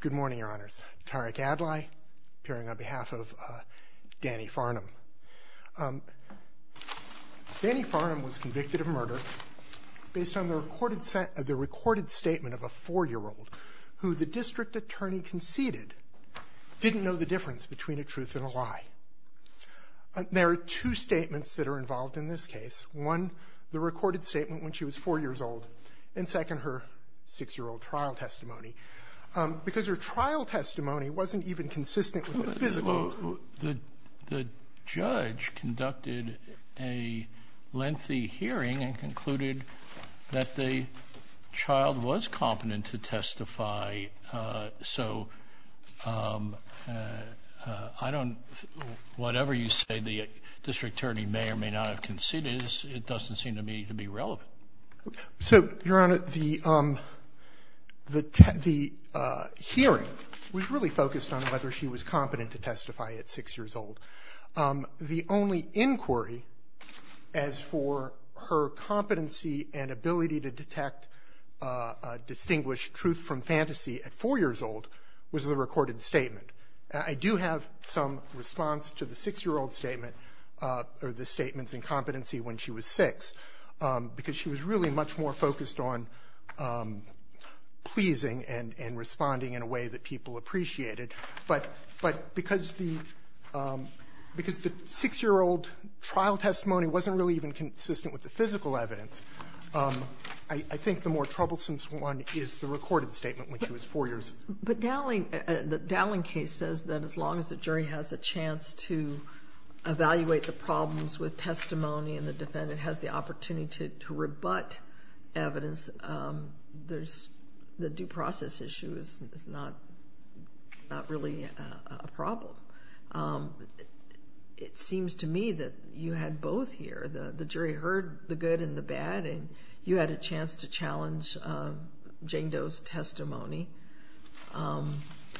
Good morning, Your Honors. Tariq Adlai, appearing on behalf of Dannie Farnum. Dannie Farnum was convicted of murder based on the recorded statement of a four-year-old who the district attorney conceded didn't know the difference between a truth and a lie. There are two statements that are involved in this case. One, the recorded statement when she was four years old, and second, her six-year-old trial testimony. Because her trial testimony wasn't even consistent with the physical. The judge conducted a lengthy hearing and concluded that the child was competent to testify. So I don't, whatever you say the district attorney may or may not have conceded, it doesn't seem to me to be relevant. So Your Honor, the hearing was really focused on whether she was competent to testify at six years old. The only inquiry as for her competency and ability to detect, distinguish truth from fantasy at four years old was the recorded statement. I do have some response to the six-year-old statement, or the statement's incompetency when she was six, because she was really much more focused on pleasing and responding in a way that people appreciated. But because the six-year-old trial testimony wasn't really even consistent with the physical evidence, I think the more troublesome one is the recorded statement when she was four years old. But Dowling, the Dowling case says that as long as the jury has a chance to evaluate the problems with testimony and the defendant has the opportunity to rebut evidence, there's, the due process issue is not, not really a problem. It seems to me that you had both here. The jury heard the good and the bad, and you had a chance to challenge Jane Doe's testimony.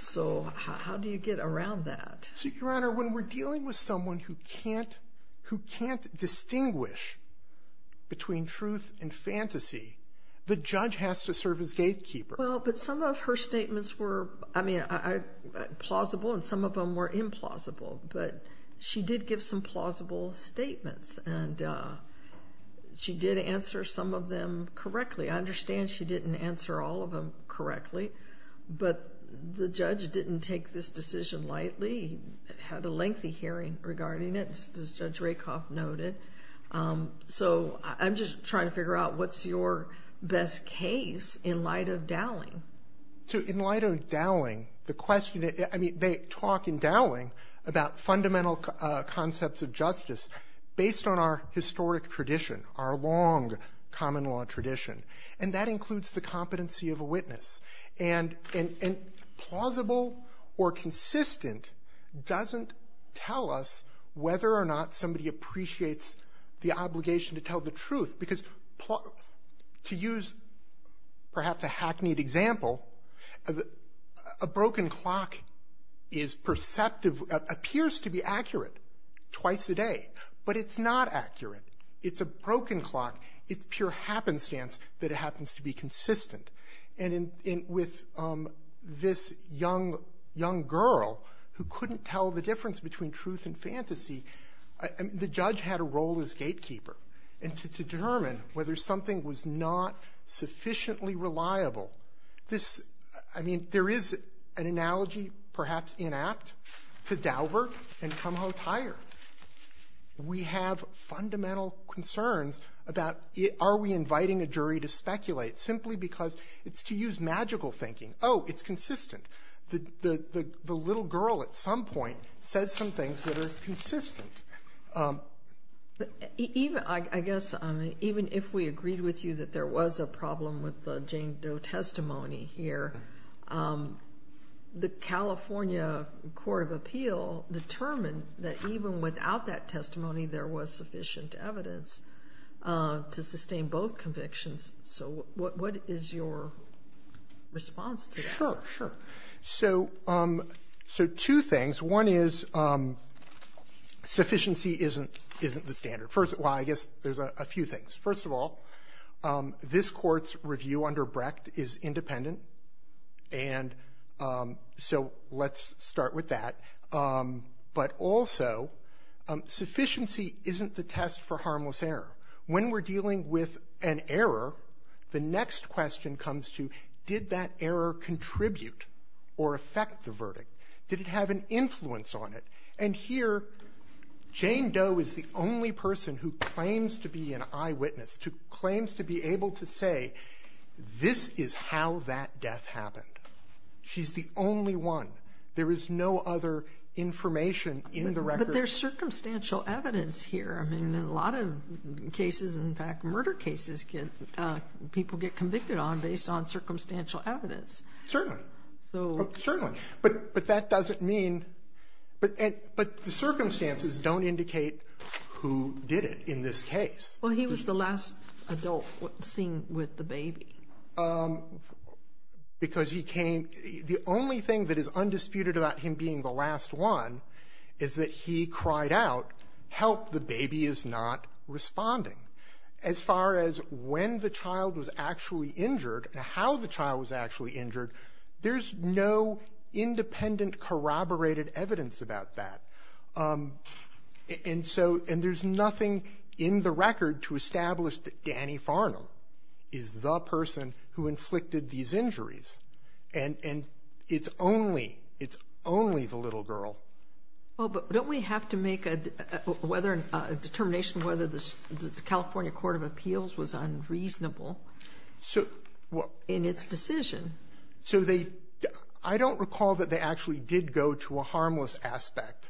So how do you get around that? Your Honor, when we're dealing with someone who can't, who can't distinguish between truth and fantasy, the judge has to serve as gatekeeper. Well, but some of her statements were, I mean, plausible, and some of them were implausible. But she did give some plausible statements, and she did answer some of them correctly. I understand she didn't answer all of them correctly, but the judge didn't take this decision lightly. He had a lengthy hearing regarding it, as Judge Rakoff noted. So I'm just trying to figure out what's your best case in light of Dowling. In light of Dowling, the question, I mean, they talk in Dowling about fundamental concepts of justice based on our historic tradition, our long common law tradition. And that includes the competency of a witness. And plausible or consistent doesn't tell us whether or not somebody appreciates the obligation to tell the truth. Because to use perhaps a hackneyed example, a broken clock is perceptive, appears to be accurate twice a day. But it's not accurate. It's a broken clock. It's pure happenstance that it happens to be consistent. And with this young girl who couldn't tell the difference between truth and fantasy, the judge had a hard time. There is an analogy, perhaps inapt, to Daubert and Kumho Tyre. We have fundamental concerns about are we inviting a jury to speculate simply because it's to use magical thinking. Oh, it's consistent. The little girl at some point says some things that are consistent. Even, I guess, even if we agreed with you that there was a problem with the Jane Doe testimony here, the California Court of Appeal determined that even without that testimony there was sufficient evidence to sustain both convictions. So what is your response to that? Sure, sure. So two things. One is sufficiency isn't the standard. Well, I guess there's a few things. First of all, this Court's review under Brecht is independent. And so let's start with that. But also, sufficiency isn't the test for harmless error. When we're dealing with an error, the next question comes to did that error contribute or affect the verdict? Did it have an influence on it? And here, Jane Doe is the only person who claims to be an eyewitness, who claims to be able to say this is how that death happened. She's the only one. There is no other information in the record. But there's circumstantial evidence here. I mean, in a lot of cases, in fact, murder cases, people get convicted on based on circumstantial evidence. Certainly. Certainly. But that doesn't mean, but the circumstances don't indicate who did it in this case. Well, he was the last adult seen with the baby. Because he came, the only thing that is undisputed about him being the last one is that he cried out, help, the baby is not responding. As far as when the child was actually injured and how the child was actually injured, there's no independent corroborated evidence about that. And so, and there's nothing in the record to establish that Danny Farnham is the person who inflicted these injuries. And it's only, it's only the little girl. Well, but don't we have to make a determination whether the California Court of Appeals was unreasonable in its decision? So they, I don't recall that they actually did go to a harmless aspect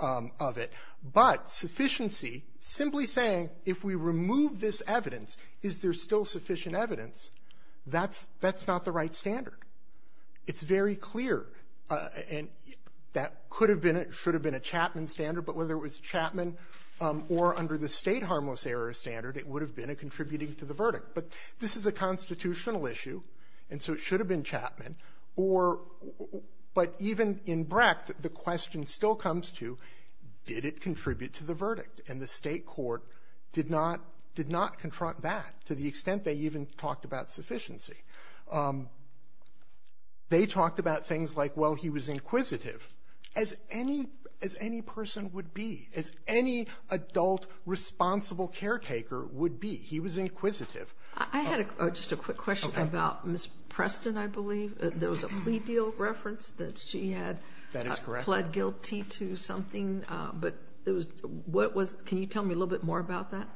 of it. But sufficiency, simply saying, if we remove this evidence, is there still sufficient evidence? That's not the right standard. It's very clear. And that could have been, it should have been a Chapman standard. But whether it was Chapman or under the State Harmless Error Standard, it would have been a contributing to the verdict. But this is a constitutional issue, and so it should have been Chapman. Or, but even in Brecht, the question still comes to, did it contribute to the verdict? And the State Court did not, did not confront that to the extent they even talked about sufficiency. They talked about things like, well, he was inquisitive, as any, as any person would be, as any adult responsible caretaker would be. He was inquisitive. I had a, just a quick question about Ms. Preston, I believe. There was a plea deal reference that she had pled guilty to something. But it was, what was, can you tell me a little bit more about that?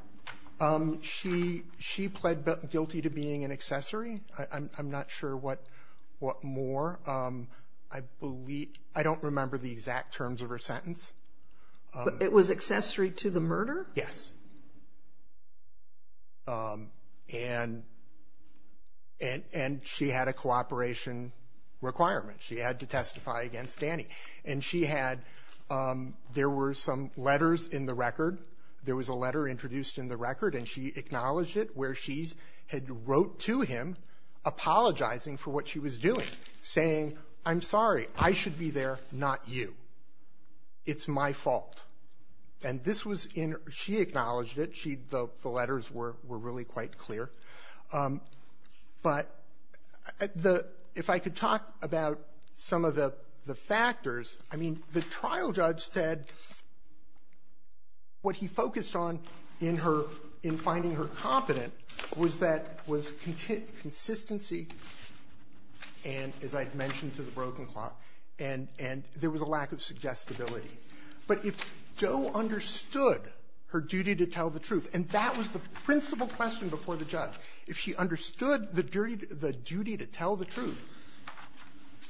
She pled guilty to being an accessory. I'm not sure what more. I believe, I don't remember the exact terms of her sentence. It was accessory to the murder? Yes. And, and she had a cooperation requirement. She had to testify. She had to testify against Danny. And she had, there were some letters in the record. There was a letter introduced in the record, and she acknowledged it, where she had wrote to him apologizing for what she was doing, saying, I'm sorry, I should be there, not you. It's my fault. And this was in, she acknowledged it. She, the, the letters were, were really quite clear. But the, if I could talk about some of the, the factors, I mean, the trial judge said what he focused on in her, in finding her competent was that, was consistency, and as I had mentioned to the broken clock, and, and there was a lack of suggestibility. But if Joe understood her duty to tell the truth, and that was the principal question before the judge, if she understood the duty to tell the truth,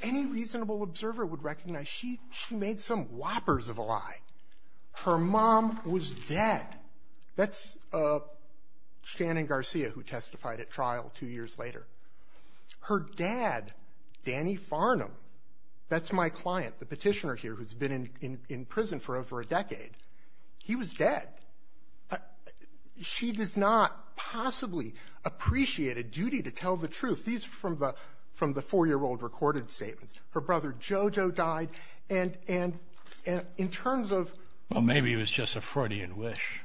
any reasonable observer would recognize she, she made some whoppers of a lie. Her mom was dead. That's Shannon Garcia who testified at trial two years later. Her dad, Danny Farnham, that's my client, the petitioner here who's been in, in prison for over a decade, he was dead. She does not possibly appreciate a duty to tell the truth. These are from the, from the four-year-old recorded statements. Her brother Jojo died, and, and, and in terms of... Well, maybe it was just a Freudian wish.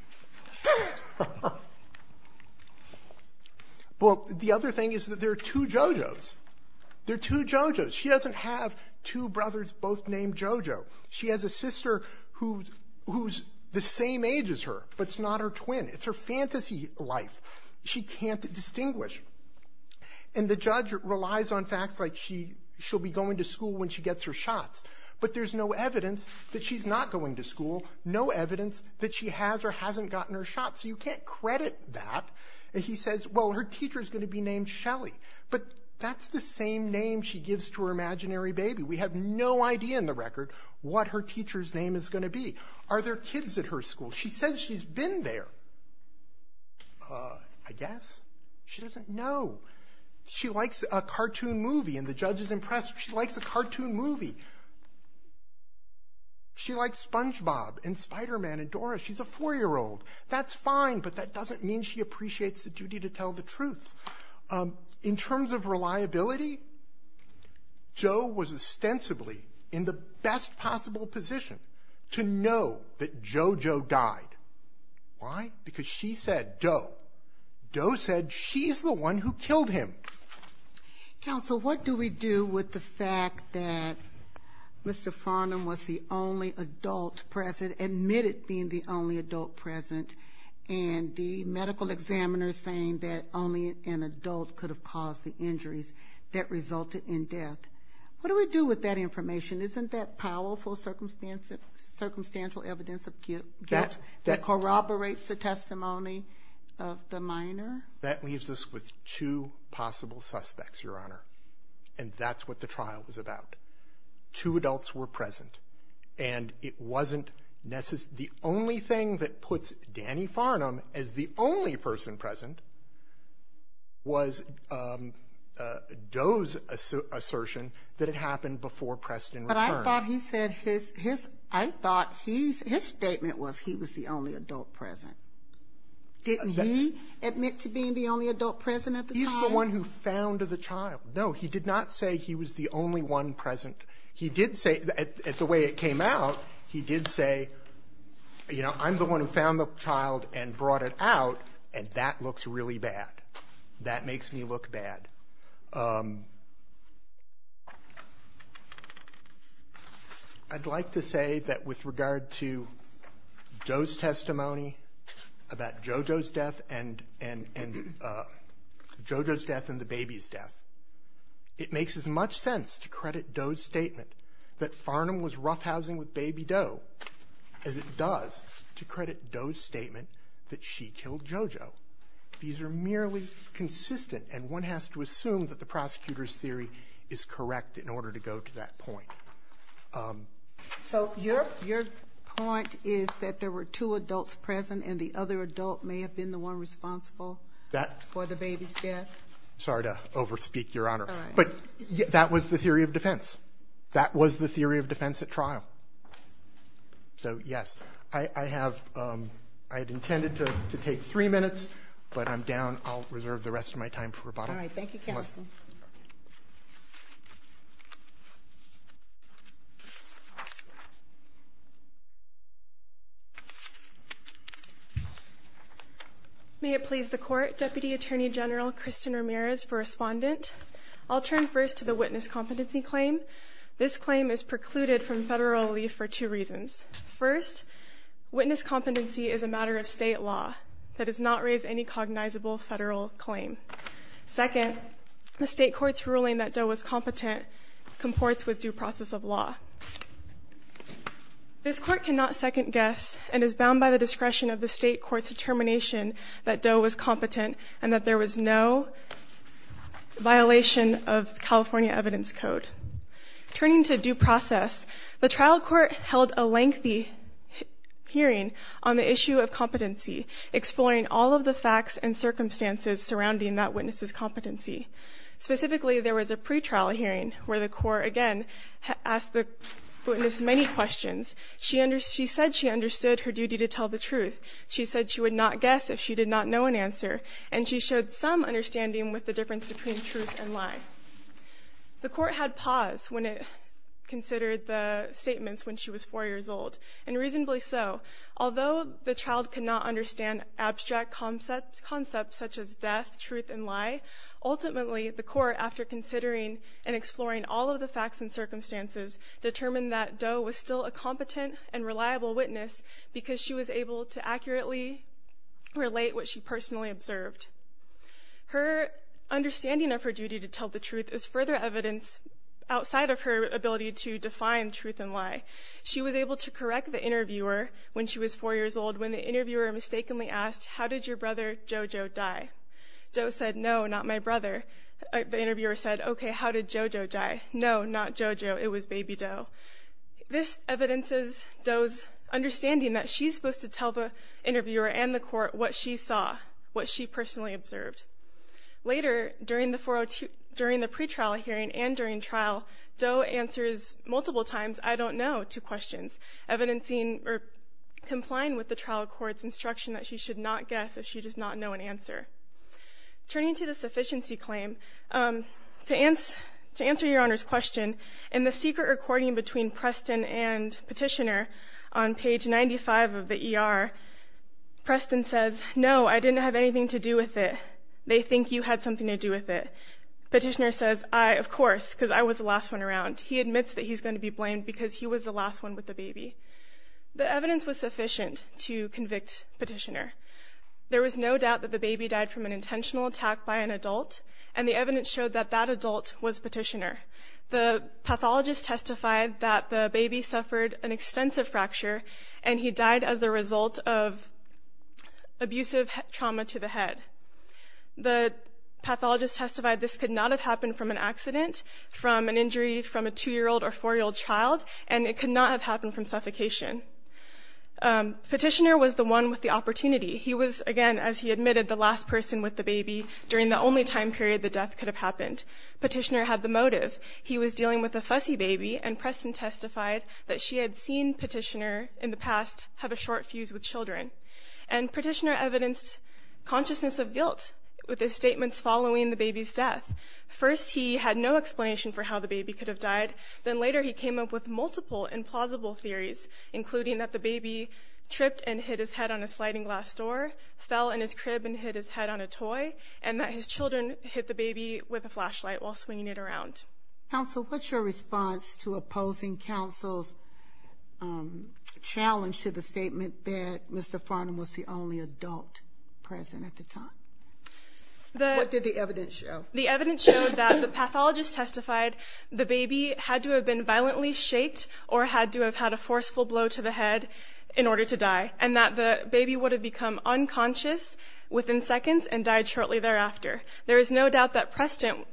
Well, the other thing is that there are two Jojos. There are two Jojos. She doesn't have two brothers both named Jojo. She has a sister who, who's the same age as her, but it's not her twin. It's her fantasy life. She can't distinguish. And the judge relies on facts like she, she'll be going to school when she gets her shots. But there's no evidence that she's not going to school, no evidence that she has or hasn't gotten her shots. So you can't credit that. And he says, well, her teacher's going to be named Shelly. But that's the same name she gives to her imaginary baby. We have no idea in the record what her teacher's name is going to be. Are there kids at her school? She says she's been there, I guess. She doesn't know. She likes a cartoon movie, and the judge is impressed. She likes a cartoon movie. She likes SpongeBob and Spider-Man and Dora. She's a four-year-old. That's fine, but that doesn't mean she appreciates the duty to tell the truth. In terms of reliability, Jo was ostensibly in the best possible position to know that JoJo died. Why? Because she said, Doe. Doe said she's the one who killed him. Counsel, what do we do with the fact that Mr. Farnham was the only adult present, admitted being the only adult present, and the medical examiner saying that only an adult could have caused the injuries that resulted in death? What do we do with that information? Isn't that powerful circumstantial evidence of guilt that corroborates the testimony of the minor? That leaves us with two possible suspects, Your Honor, and that's what the trial was about. Two adults were present, and it wasn't necessary. The only thing that puts Danny Farnham as the only person present was Doe's assertion that it happened before Preston returned. But I thought he said his – I thought his statement was he was the only adult present. Didn't he admit to being the only adult present at the time? No, he did not say he was the only one present. He did say – at the way it came out, he did say, you know, I'm the one who found the child and brought it out, and that looks really bad. That makes me look bad. I'd like to say that with regard to Doe's testimony about JoJo's death and JoJo's death, it makes as much sense to credit Doe's statement that Farnham was roughhousing with Baby Doe as it does to credit Doe's statement that she killed JoJo. These are merely consistent, and one has to assume that the prosecutor's theory is correct in order to go to that point. So your point is that there were two adults present, and the other adult may have been the one responsible for the baby's death? I'm sorry to over-speak, Your Honor, but that was the theory of defense. That was the theory of defense at trial. So, yes, I have – I had intended to take three minutes, but I'm down. I'll reserve the rest of my time for rebuttal. Thank you, Your Honor. May it please the Court, Deputy Attorney General Kristen Ramirez for Respondent. I'll turn first to the witness competency claim. This claim is precluded from federal relief for two reasons. First, witness competency is a matter of state law. That does not raise any cognizable federal claim. Second, the state court's ruling that Doe was competent comports with due process of law. This court cannot second-guess and is bound by the discretion of the state court's determination that Doe was competent and that there was no violation of California Evidence Code. Turning to due process, the trial court held a lengthy hearing on the issue of competency, exploring all of the facts and circumstances surrounding that witness's competency. Specifically, there was a pretrial hearing where the court, again, asked the witness many questions. She said she understood her duty to tell the truth. She said she would not guess if she did not know an answer. And she showed some understanding with the difference between truth and lie. The court had pause when it considered the statements when she was 4 years old, and reasonably so. Although the child could not understand abstract concepts such as death, truth, and lie, ultimately, the court, after considering and exploring all of the facts and circumstances, determined that Doe was still a competent and reliable witness because she was able to accurately relate what she personally observed. Her understanding of her duty to tell the truth is further evidence outside of her ability to define truth and lie. She was able to correct the interviewer when she was 4 years old when the interviewer mistakenly asked, how did your brother, JoJo, die? Doe said, no, not my brother. The interviewer said, okay, how did JoJo die? No, not JoJo, it was baby Doe. This evidences Doe's understanding that she's supposed to tell the interviewer and the court what she saw, what she personally observed. Later, during the pre-trial hearing and during trial, Doe answers multiple times, I don't know, to questions, evidencing or complying with the trial court's instruction that she should not guess if she does not know an answer. Turning to the sufficiency claim, to answer your Honor's question, in the secret recording between Preston and Petitioner, on page 95 of the ER, Preston says, no, I didn't have anything to do with it. They think you had something to do with it. Petitioner says, I, of course, because I was the last one around. He admits that he's going to be blamed because he was the last one with the baby. The evidence was sufficient to convict Petitioner. There was no doubt that the baby died from an intentional attack by an adult, and the evidence showed that that adult was Petitioner. The pathologist testified that the baby suffered an extensive fracture, and he died as a result of abusive trauma to the head. The pathologist testified this could not have happened from an accident, from an injury from a two-year-old or four-year-old child, and it could not have happened from suffocation. Petitioner was the one with the opportunity. He was, again, as he admitted, the last person with the baby during the only time period the death could have happened. Petitioner had the motive. He was dealing with a fussy baby, and Preston testified that she had seen Petitioner in the past have a short fuse with children. And Petitioner evidenced consciousness of guilt with his statements following the baby's death. First, he had no explanation for how the baby could have died. Then later, he came up with multiple implausible theories, including that the baby tripped and hit his head on a sliding glass door, fell in his crib and hit his head on a toy, and that his children hit the baby with a flashlight while swinging it around. Counsel, what's your response to opposing counsel's challenge to the statement that Mr. Farnham was the only adult present at the time? What did the evidence show? The evidence showed that the pathologist testified the baby had to have been violently shaked or had to have had a forceful blow to the head in order to die, and that the baby would have become unconscious within seconds and died shortly thereafter. There is no doubt that Preston,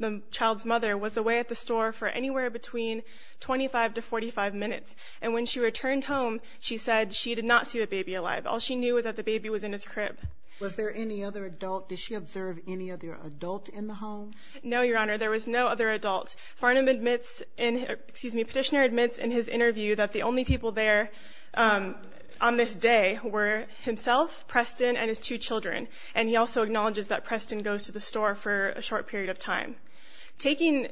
the child's mother, was away at the store for anywhere between 25 to 45 minutes. And when she returned home, she said she did not see the baby alive. All she knew was that the baby was in his crib. Was there any other adult? Did she observe any other adult in the home? No, Your Honor. There was no other adult. Farnham admits in his – excuse me, Petitioner admits in his interview that the only people there on this day were himself, Preston, and his two children. And he also acknowledges that Preston goes to the store for a short period of time. Putting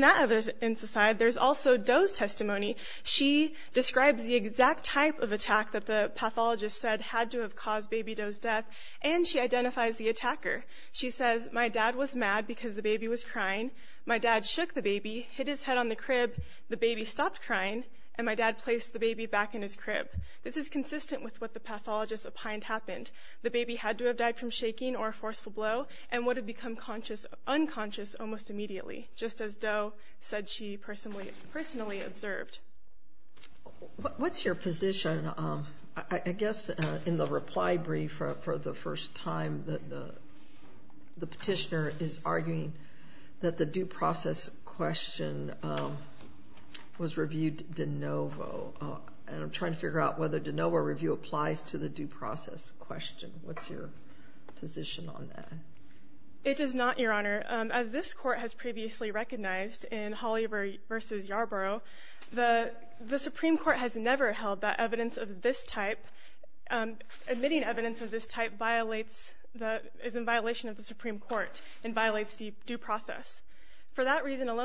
that evidence aside, there's also Doe's testimony. She describes the exact type of attack that the pathologist said had to have caused baby Doe's death, and she identifies the attacker. She says, my dad was mad because the baby was crying. My dad shook the baby, hit his head on the crib, the baby stopped crying, and my dad placed the baby back in his crib. This is consistent with what the pathologist opined happened. The baby had to have died from shaking or a forceful blow and would have become unconscious almost immediately, just as Doe said she personally observed. What's your position? I guess in the reply brief for the first time, the Petitioner is trying to figure out whether DeNovo review applies to the due process question. What's your position on that? It does not, Your Honor. As this Court has previously recognized in Holly versus Yarborough, the Supreme Court has never held that evidence of this type, admitting evidence of this type violates – is in violation of the Supreme Court and violates due process. For that reason an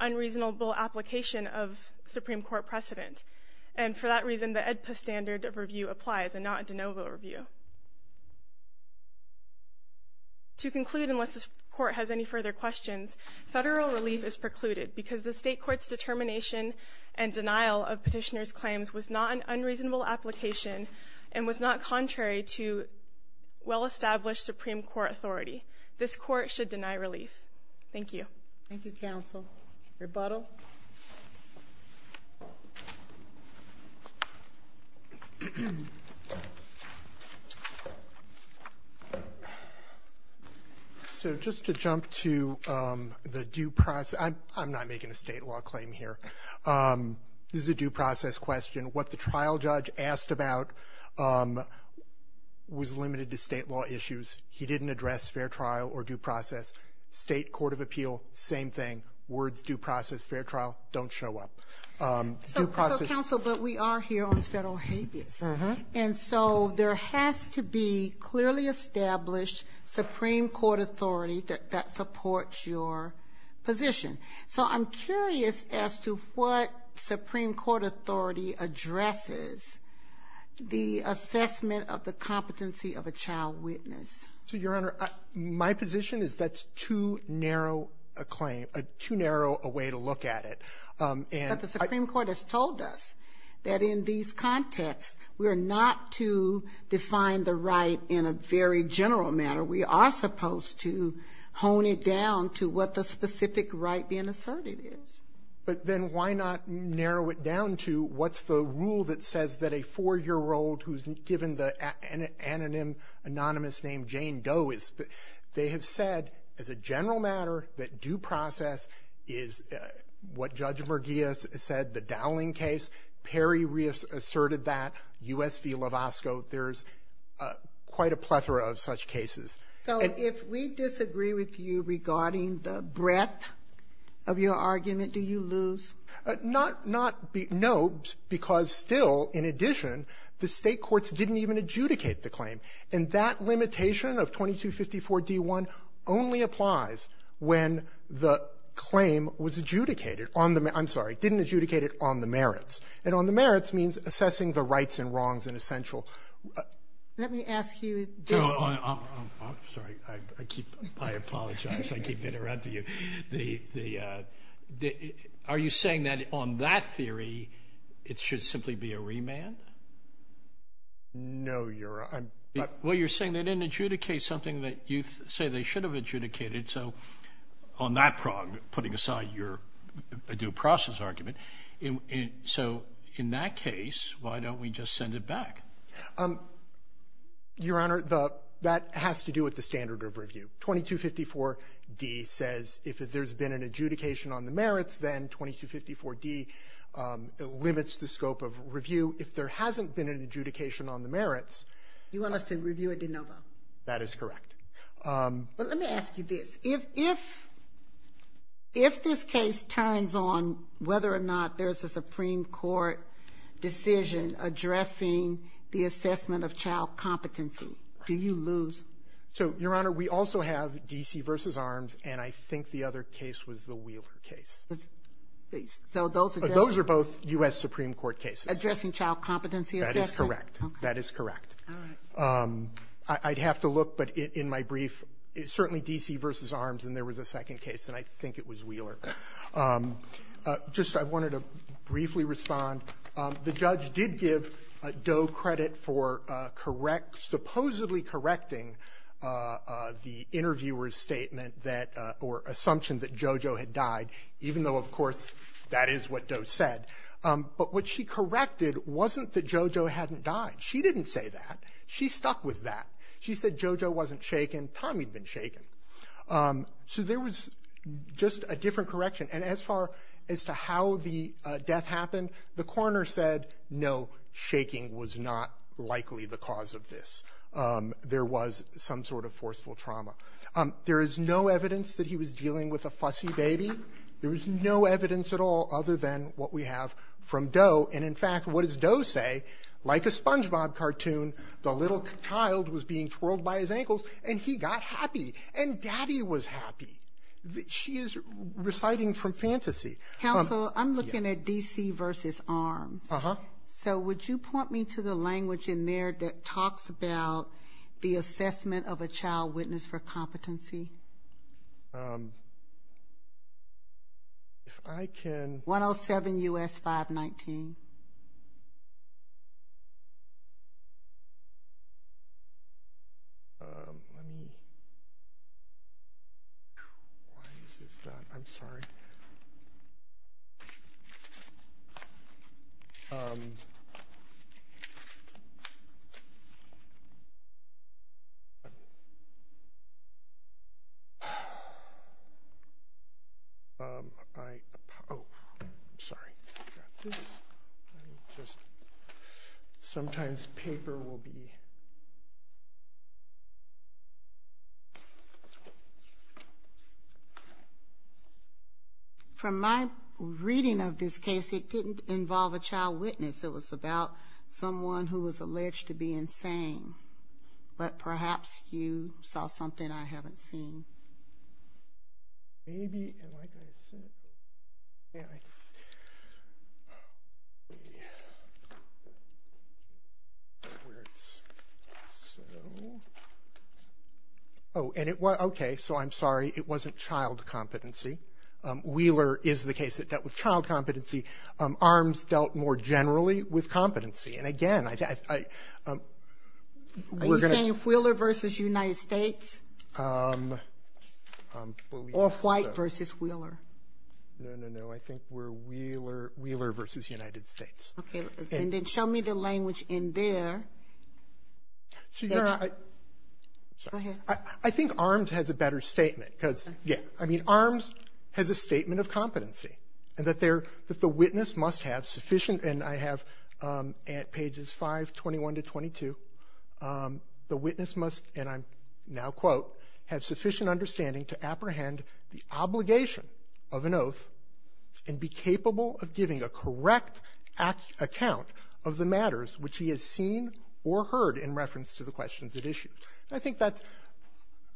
unreasonable application of Supreme Court precedent. And for that reason the AEDPA standard of review applies and not a DeNovo review. To conclude, unless this Court has any further questions, Federal relief is precluded because the State Court's determination and denial of Petitioner's claims was not an unreasonable application and was not contrary to well-established Supreme Court authority. This Court should now rebuttal. So just to jump to the due process – I'm not making a State law claim here. This is a due process question. What the trial judge asked about was limited to State law issues. He didn't address fair trial or due process. State Court of Appeal, same thing. Words due process, fair trial, don't show up. So, Counsel, but we are here on Federal habeas. And so there has to be clearly established Supreme Court authority that supports your position. So I'm curious as to what Supreme Court authority is that you're trying to use in this case. So, Your Honor, my position is that's too narrow a claim, too narrow a way to look at it. But the Supreme Court has told us that in these contexts we are not to define the right in a very general manner. We are supposed to hone it down to what the specific right being asserted is. But then why not narrow it down to what's the rule that says that a 4-year-old who's given the anonymous name Jane Doe is? They have said as a general matter that due process is what Judge Murguia said, the Dowling case. Perry reasserted that, U.S. v. Lovasco. There's quite a plethora of such cases. And if we disagree with you regarding the breadth of your argument, do you lose? No, because still, in addition, the State courts didn't even adjudicate the claim. And that limitation of 2254d-1 only applies when the claim was adjudicated on the merits. I'm sorry, didn't adjudicate it on the merits. And on the merits means assessing the rights and wrongs and essential ---- Sotomayor, let me ask you this. I'm sorry. I apologize. I keep interrupting you. Are you saying that on that theory, it should simply be a remand? No, Your Honor. Well, you're saying they didn't adjudicate something that you say they should have adjudicated. So on that prong, putting aside your due process argument. So in that case, why don't we just send it back? Your Honor, the ---- that has to do with the standard of review. 2254d says if there's been an adjudication on the merits, then 2254d limits the scope of review. If there hasn't been an adjudication on the merits ---- You want us to review a de novo? That is correct. But let me ask you this. If this case turns on whether or not there's a Supreme Court decision addressing the assessment of child competency, do you lose? So, Your Honor, we also have D.C. v. Arms, and I think the other case was the Wheeler case. So those are just ---- Those are both U.S. Supreme Court cases. Addressing child competency assessment? That is correct. That is correct. All right. I'd have to look, but in my brief, it's certainly D.C. v. Arms, and there was a second case, and I think it was Wheeler. Just I wanted to briefly respond. The judge did give Doe credit for correct ---- supposedly correcting the interviewer's statement that ---- or assumption that JoJo had died, even though, of course, that is what Doe said. But what she corrected wasn't that JoJo hadn't died. She didn't say that. She stuck with that. She said JoJo wasn't shaken. Tommy had been shaken. So there was just a different correction. And as far as to how the death happened, the coroner said, no, shaking was not likely the cause of this. There was some sort of forceful trauma. There is no evidence that he was dealing with a fussy baby. There is no evidence at all other than what we have from Doe. And, in fact, what does Doe say? Like a SpongeBob cartoon, the little child was being twirled by his ankles, and he got happy, and Daddy was happy. She is reciting from fantasy. Counsel, I'm looking at D.C. v. Arms. Uh-huh. So would you point me to the language in there that talks about the assessment of a child witness for competency? If I can ---- 107 U.S. 519. Why is this not? I'm sorry. Sometimes paper will be From my reading of this case, it didn't involve a child witness. It was about someone who was alleged to be insane. But perhaps you saw something I haven't seen. Maybe. Oh, and it was. Okay. So I'm sorry. It wasn't child competency. Wheeler is the case that dealt with child competency. Arms dealt more generally with competency. And, again, I ---- Are you saying Wheeler v. United States? Or White v. Wheeler? No, no, no. I think we're Wheeler v. United States. Okay. And then show me the language in there. Go ahead. I think Arms has a better statement because, yeah, I mean, Arms has a statement of competency and that the witness must have sufficient, and I have at pages 521 to 22, the witness must, and I now quote, have sufficient understanding to apprehend the obligation of an oath and be capable of giving a correct account of the matters which he has seen or heard in reference to the questions at issue. I think that's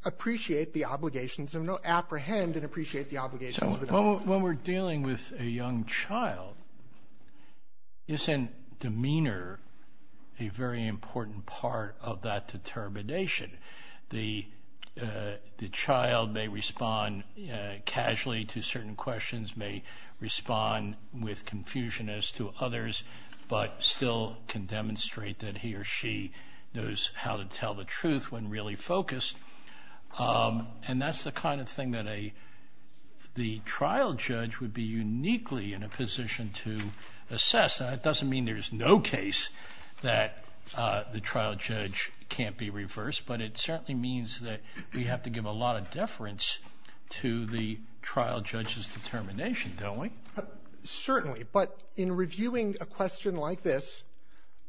appreciate the obligations of an oath, apprehend and appreciate the obligations of an oath. When we're dealing with a young child, isn't demeanor a very important part of that determination? The child may respond casually to certain questions, may respond with confusion as to others, but still can demonstrate that he or she knows how to tell the truth when really focused. And that's the kind of thing that the trial judge would be uniquely in a position to assess. That doesn't mean there's no case that the trial judge can't be reversed, but it certainly means that we have to give a lot of deference to the trial judge's determination, don't we? Certainly. But in reviewing a question like this,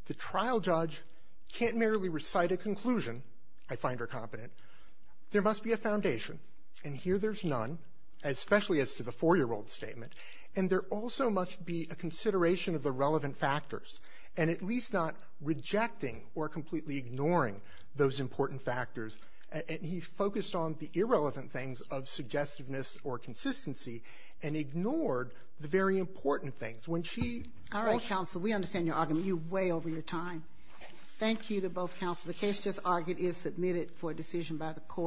the trial judge can't merely recite a conclusion, I find her competent. There must be a foundation, and here there's none, especially as to the 4-year-old statement, and there also must be a consideration of the relevant factors, and at least not rejecting or completely ignoring those important factors. And he focused on the irrelevant things of suggestiveness or consistency and ignored the very important things. All right, counsel, we understand your argument. You're way over your time. Thank you to both counsel. The case just argued is submitted for decision by the court.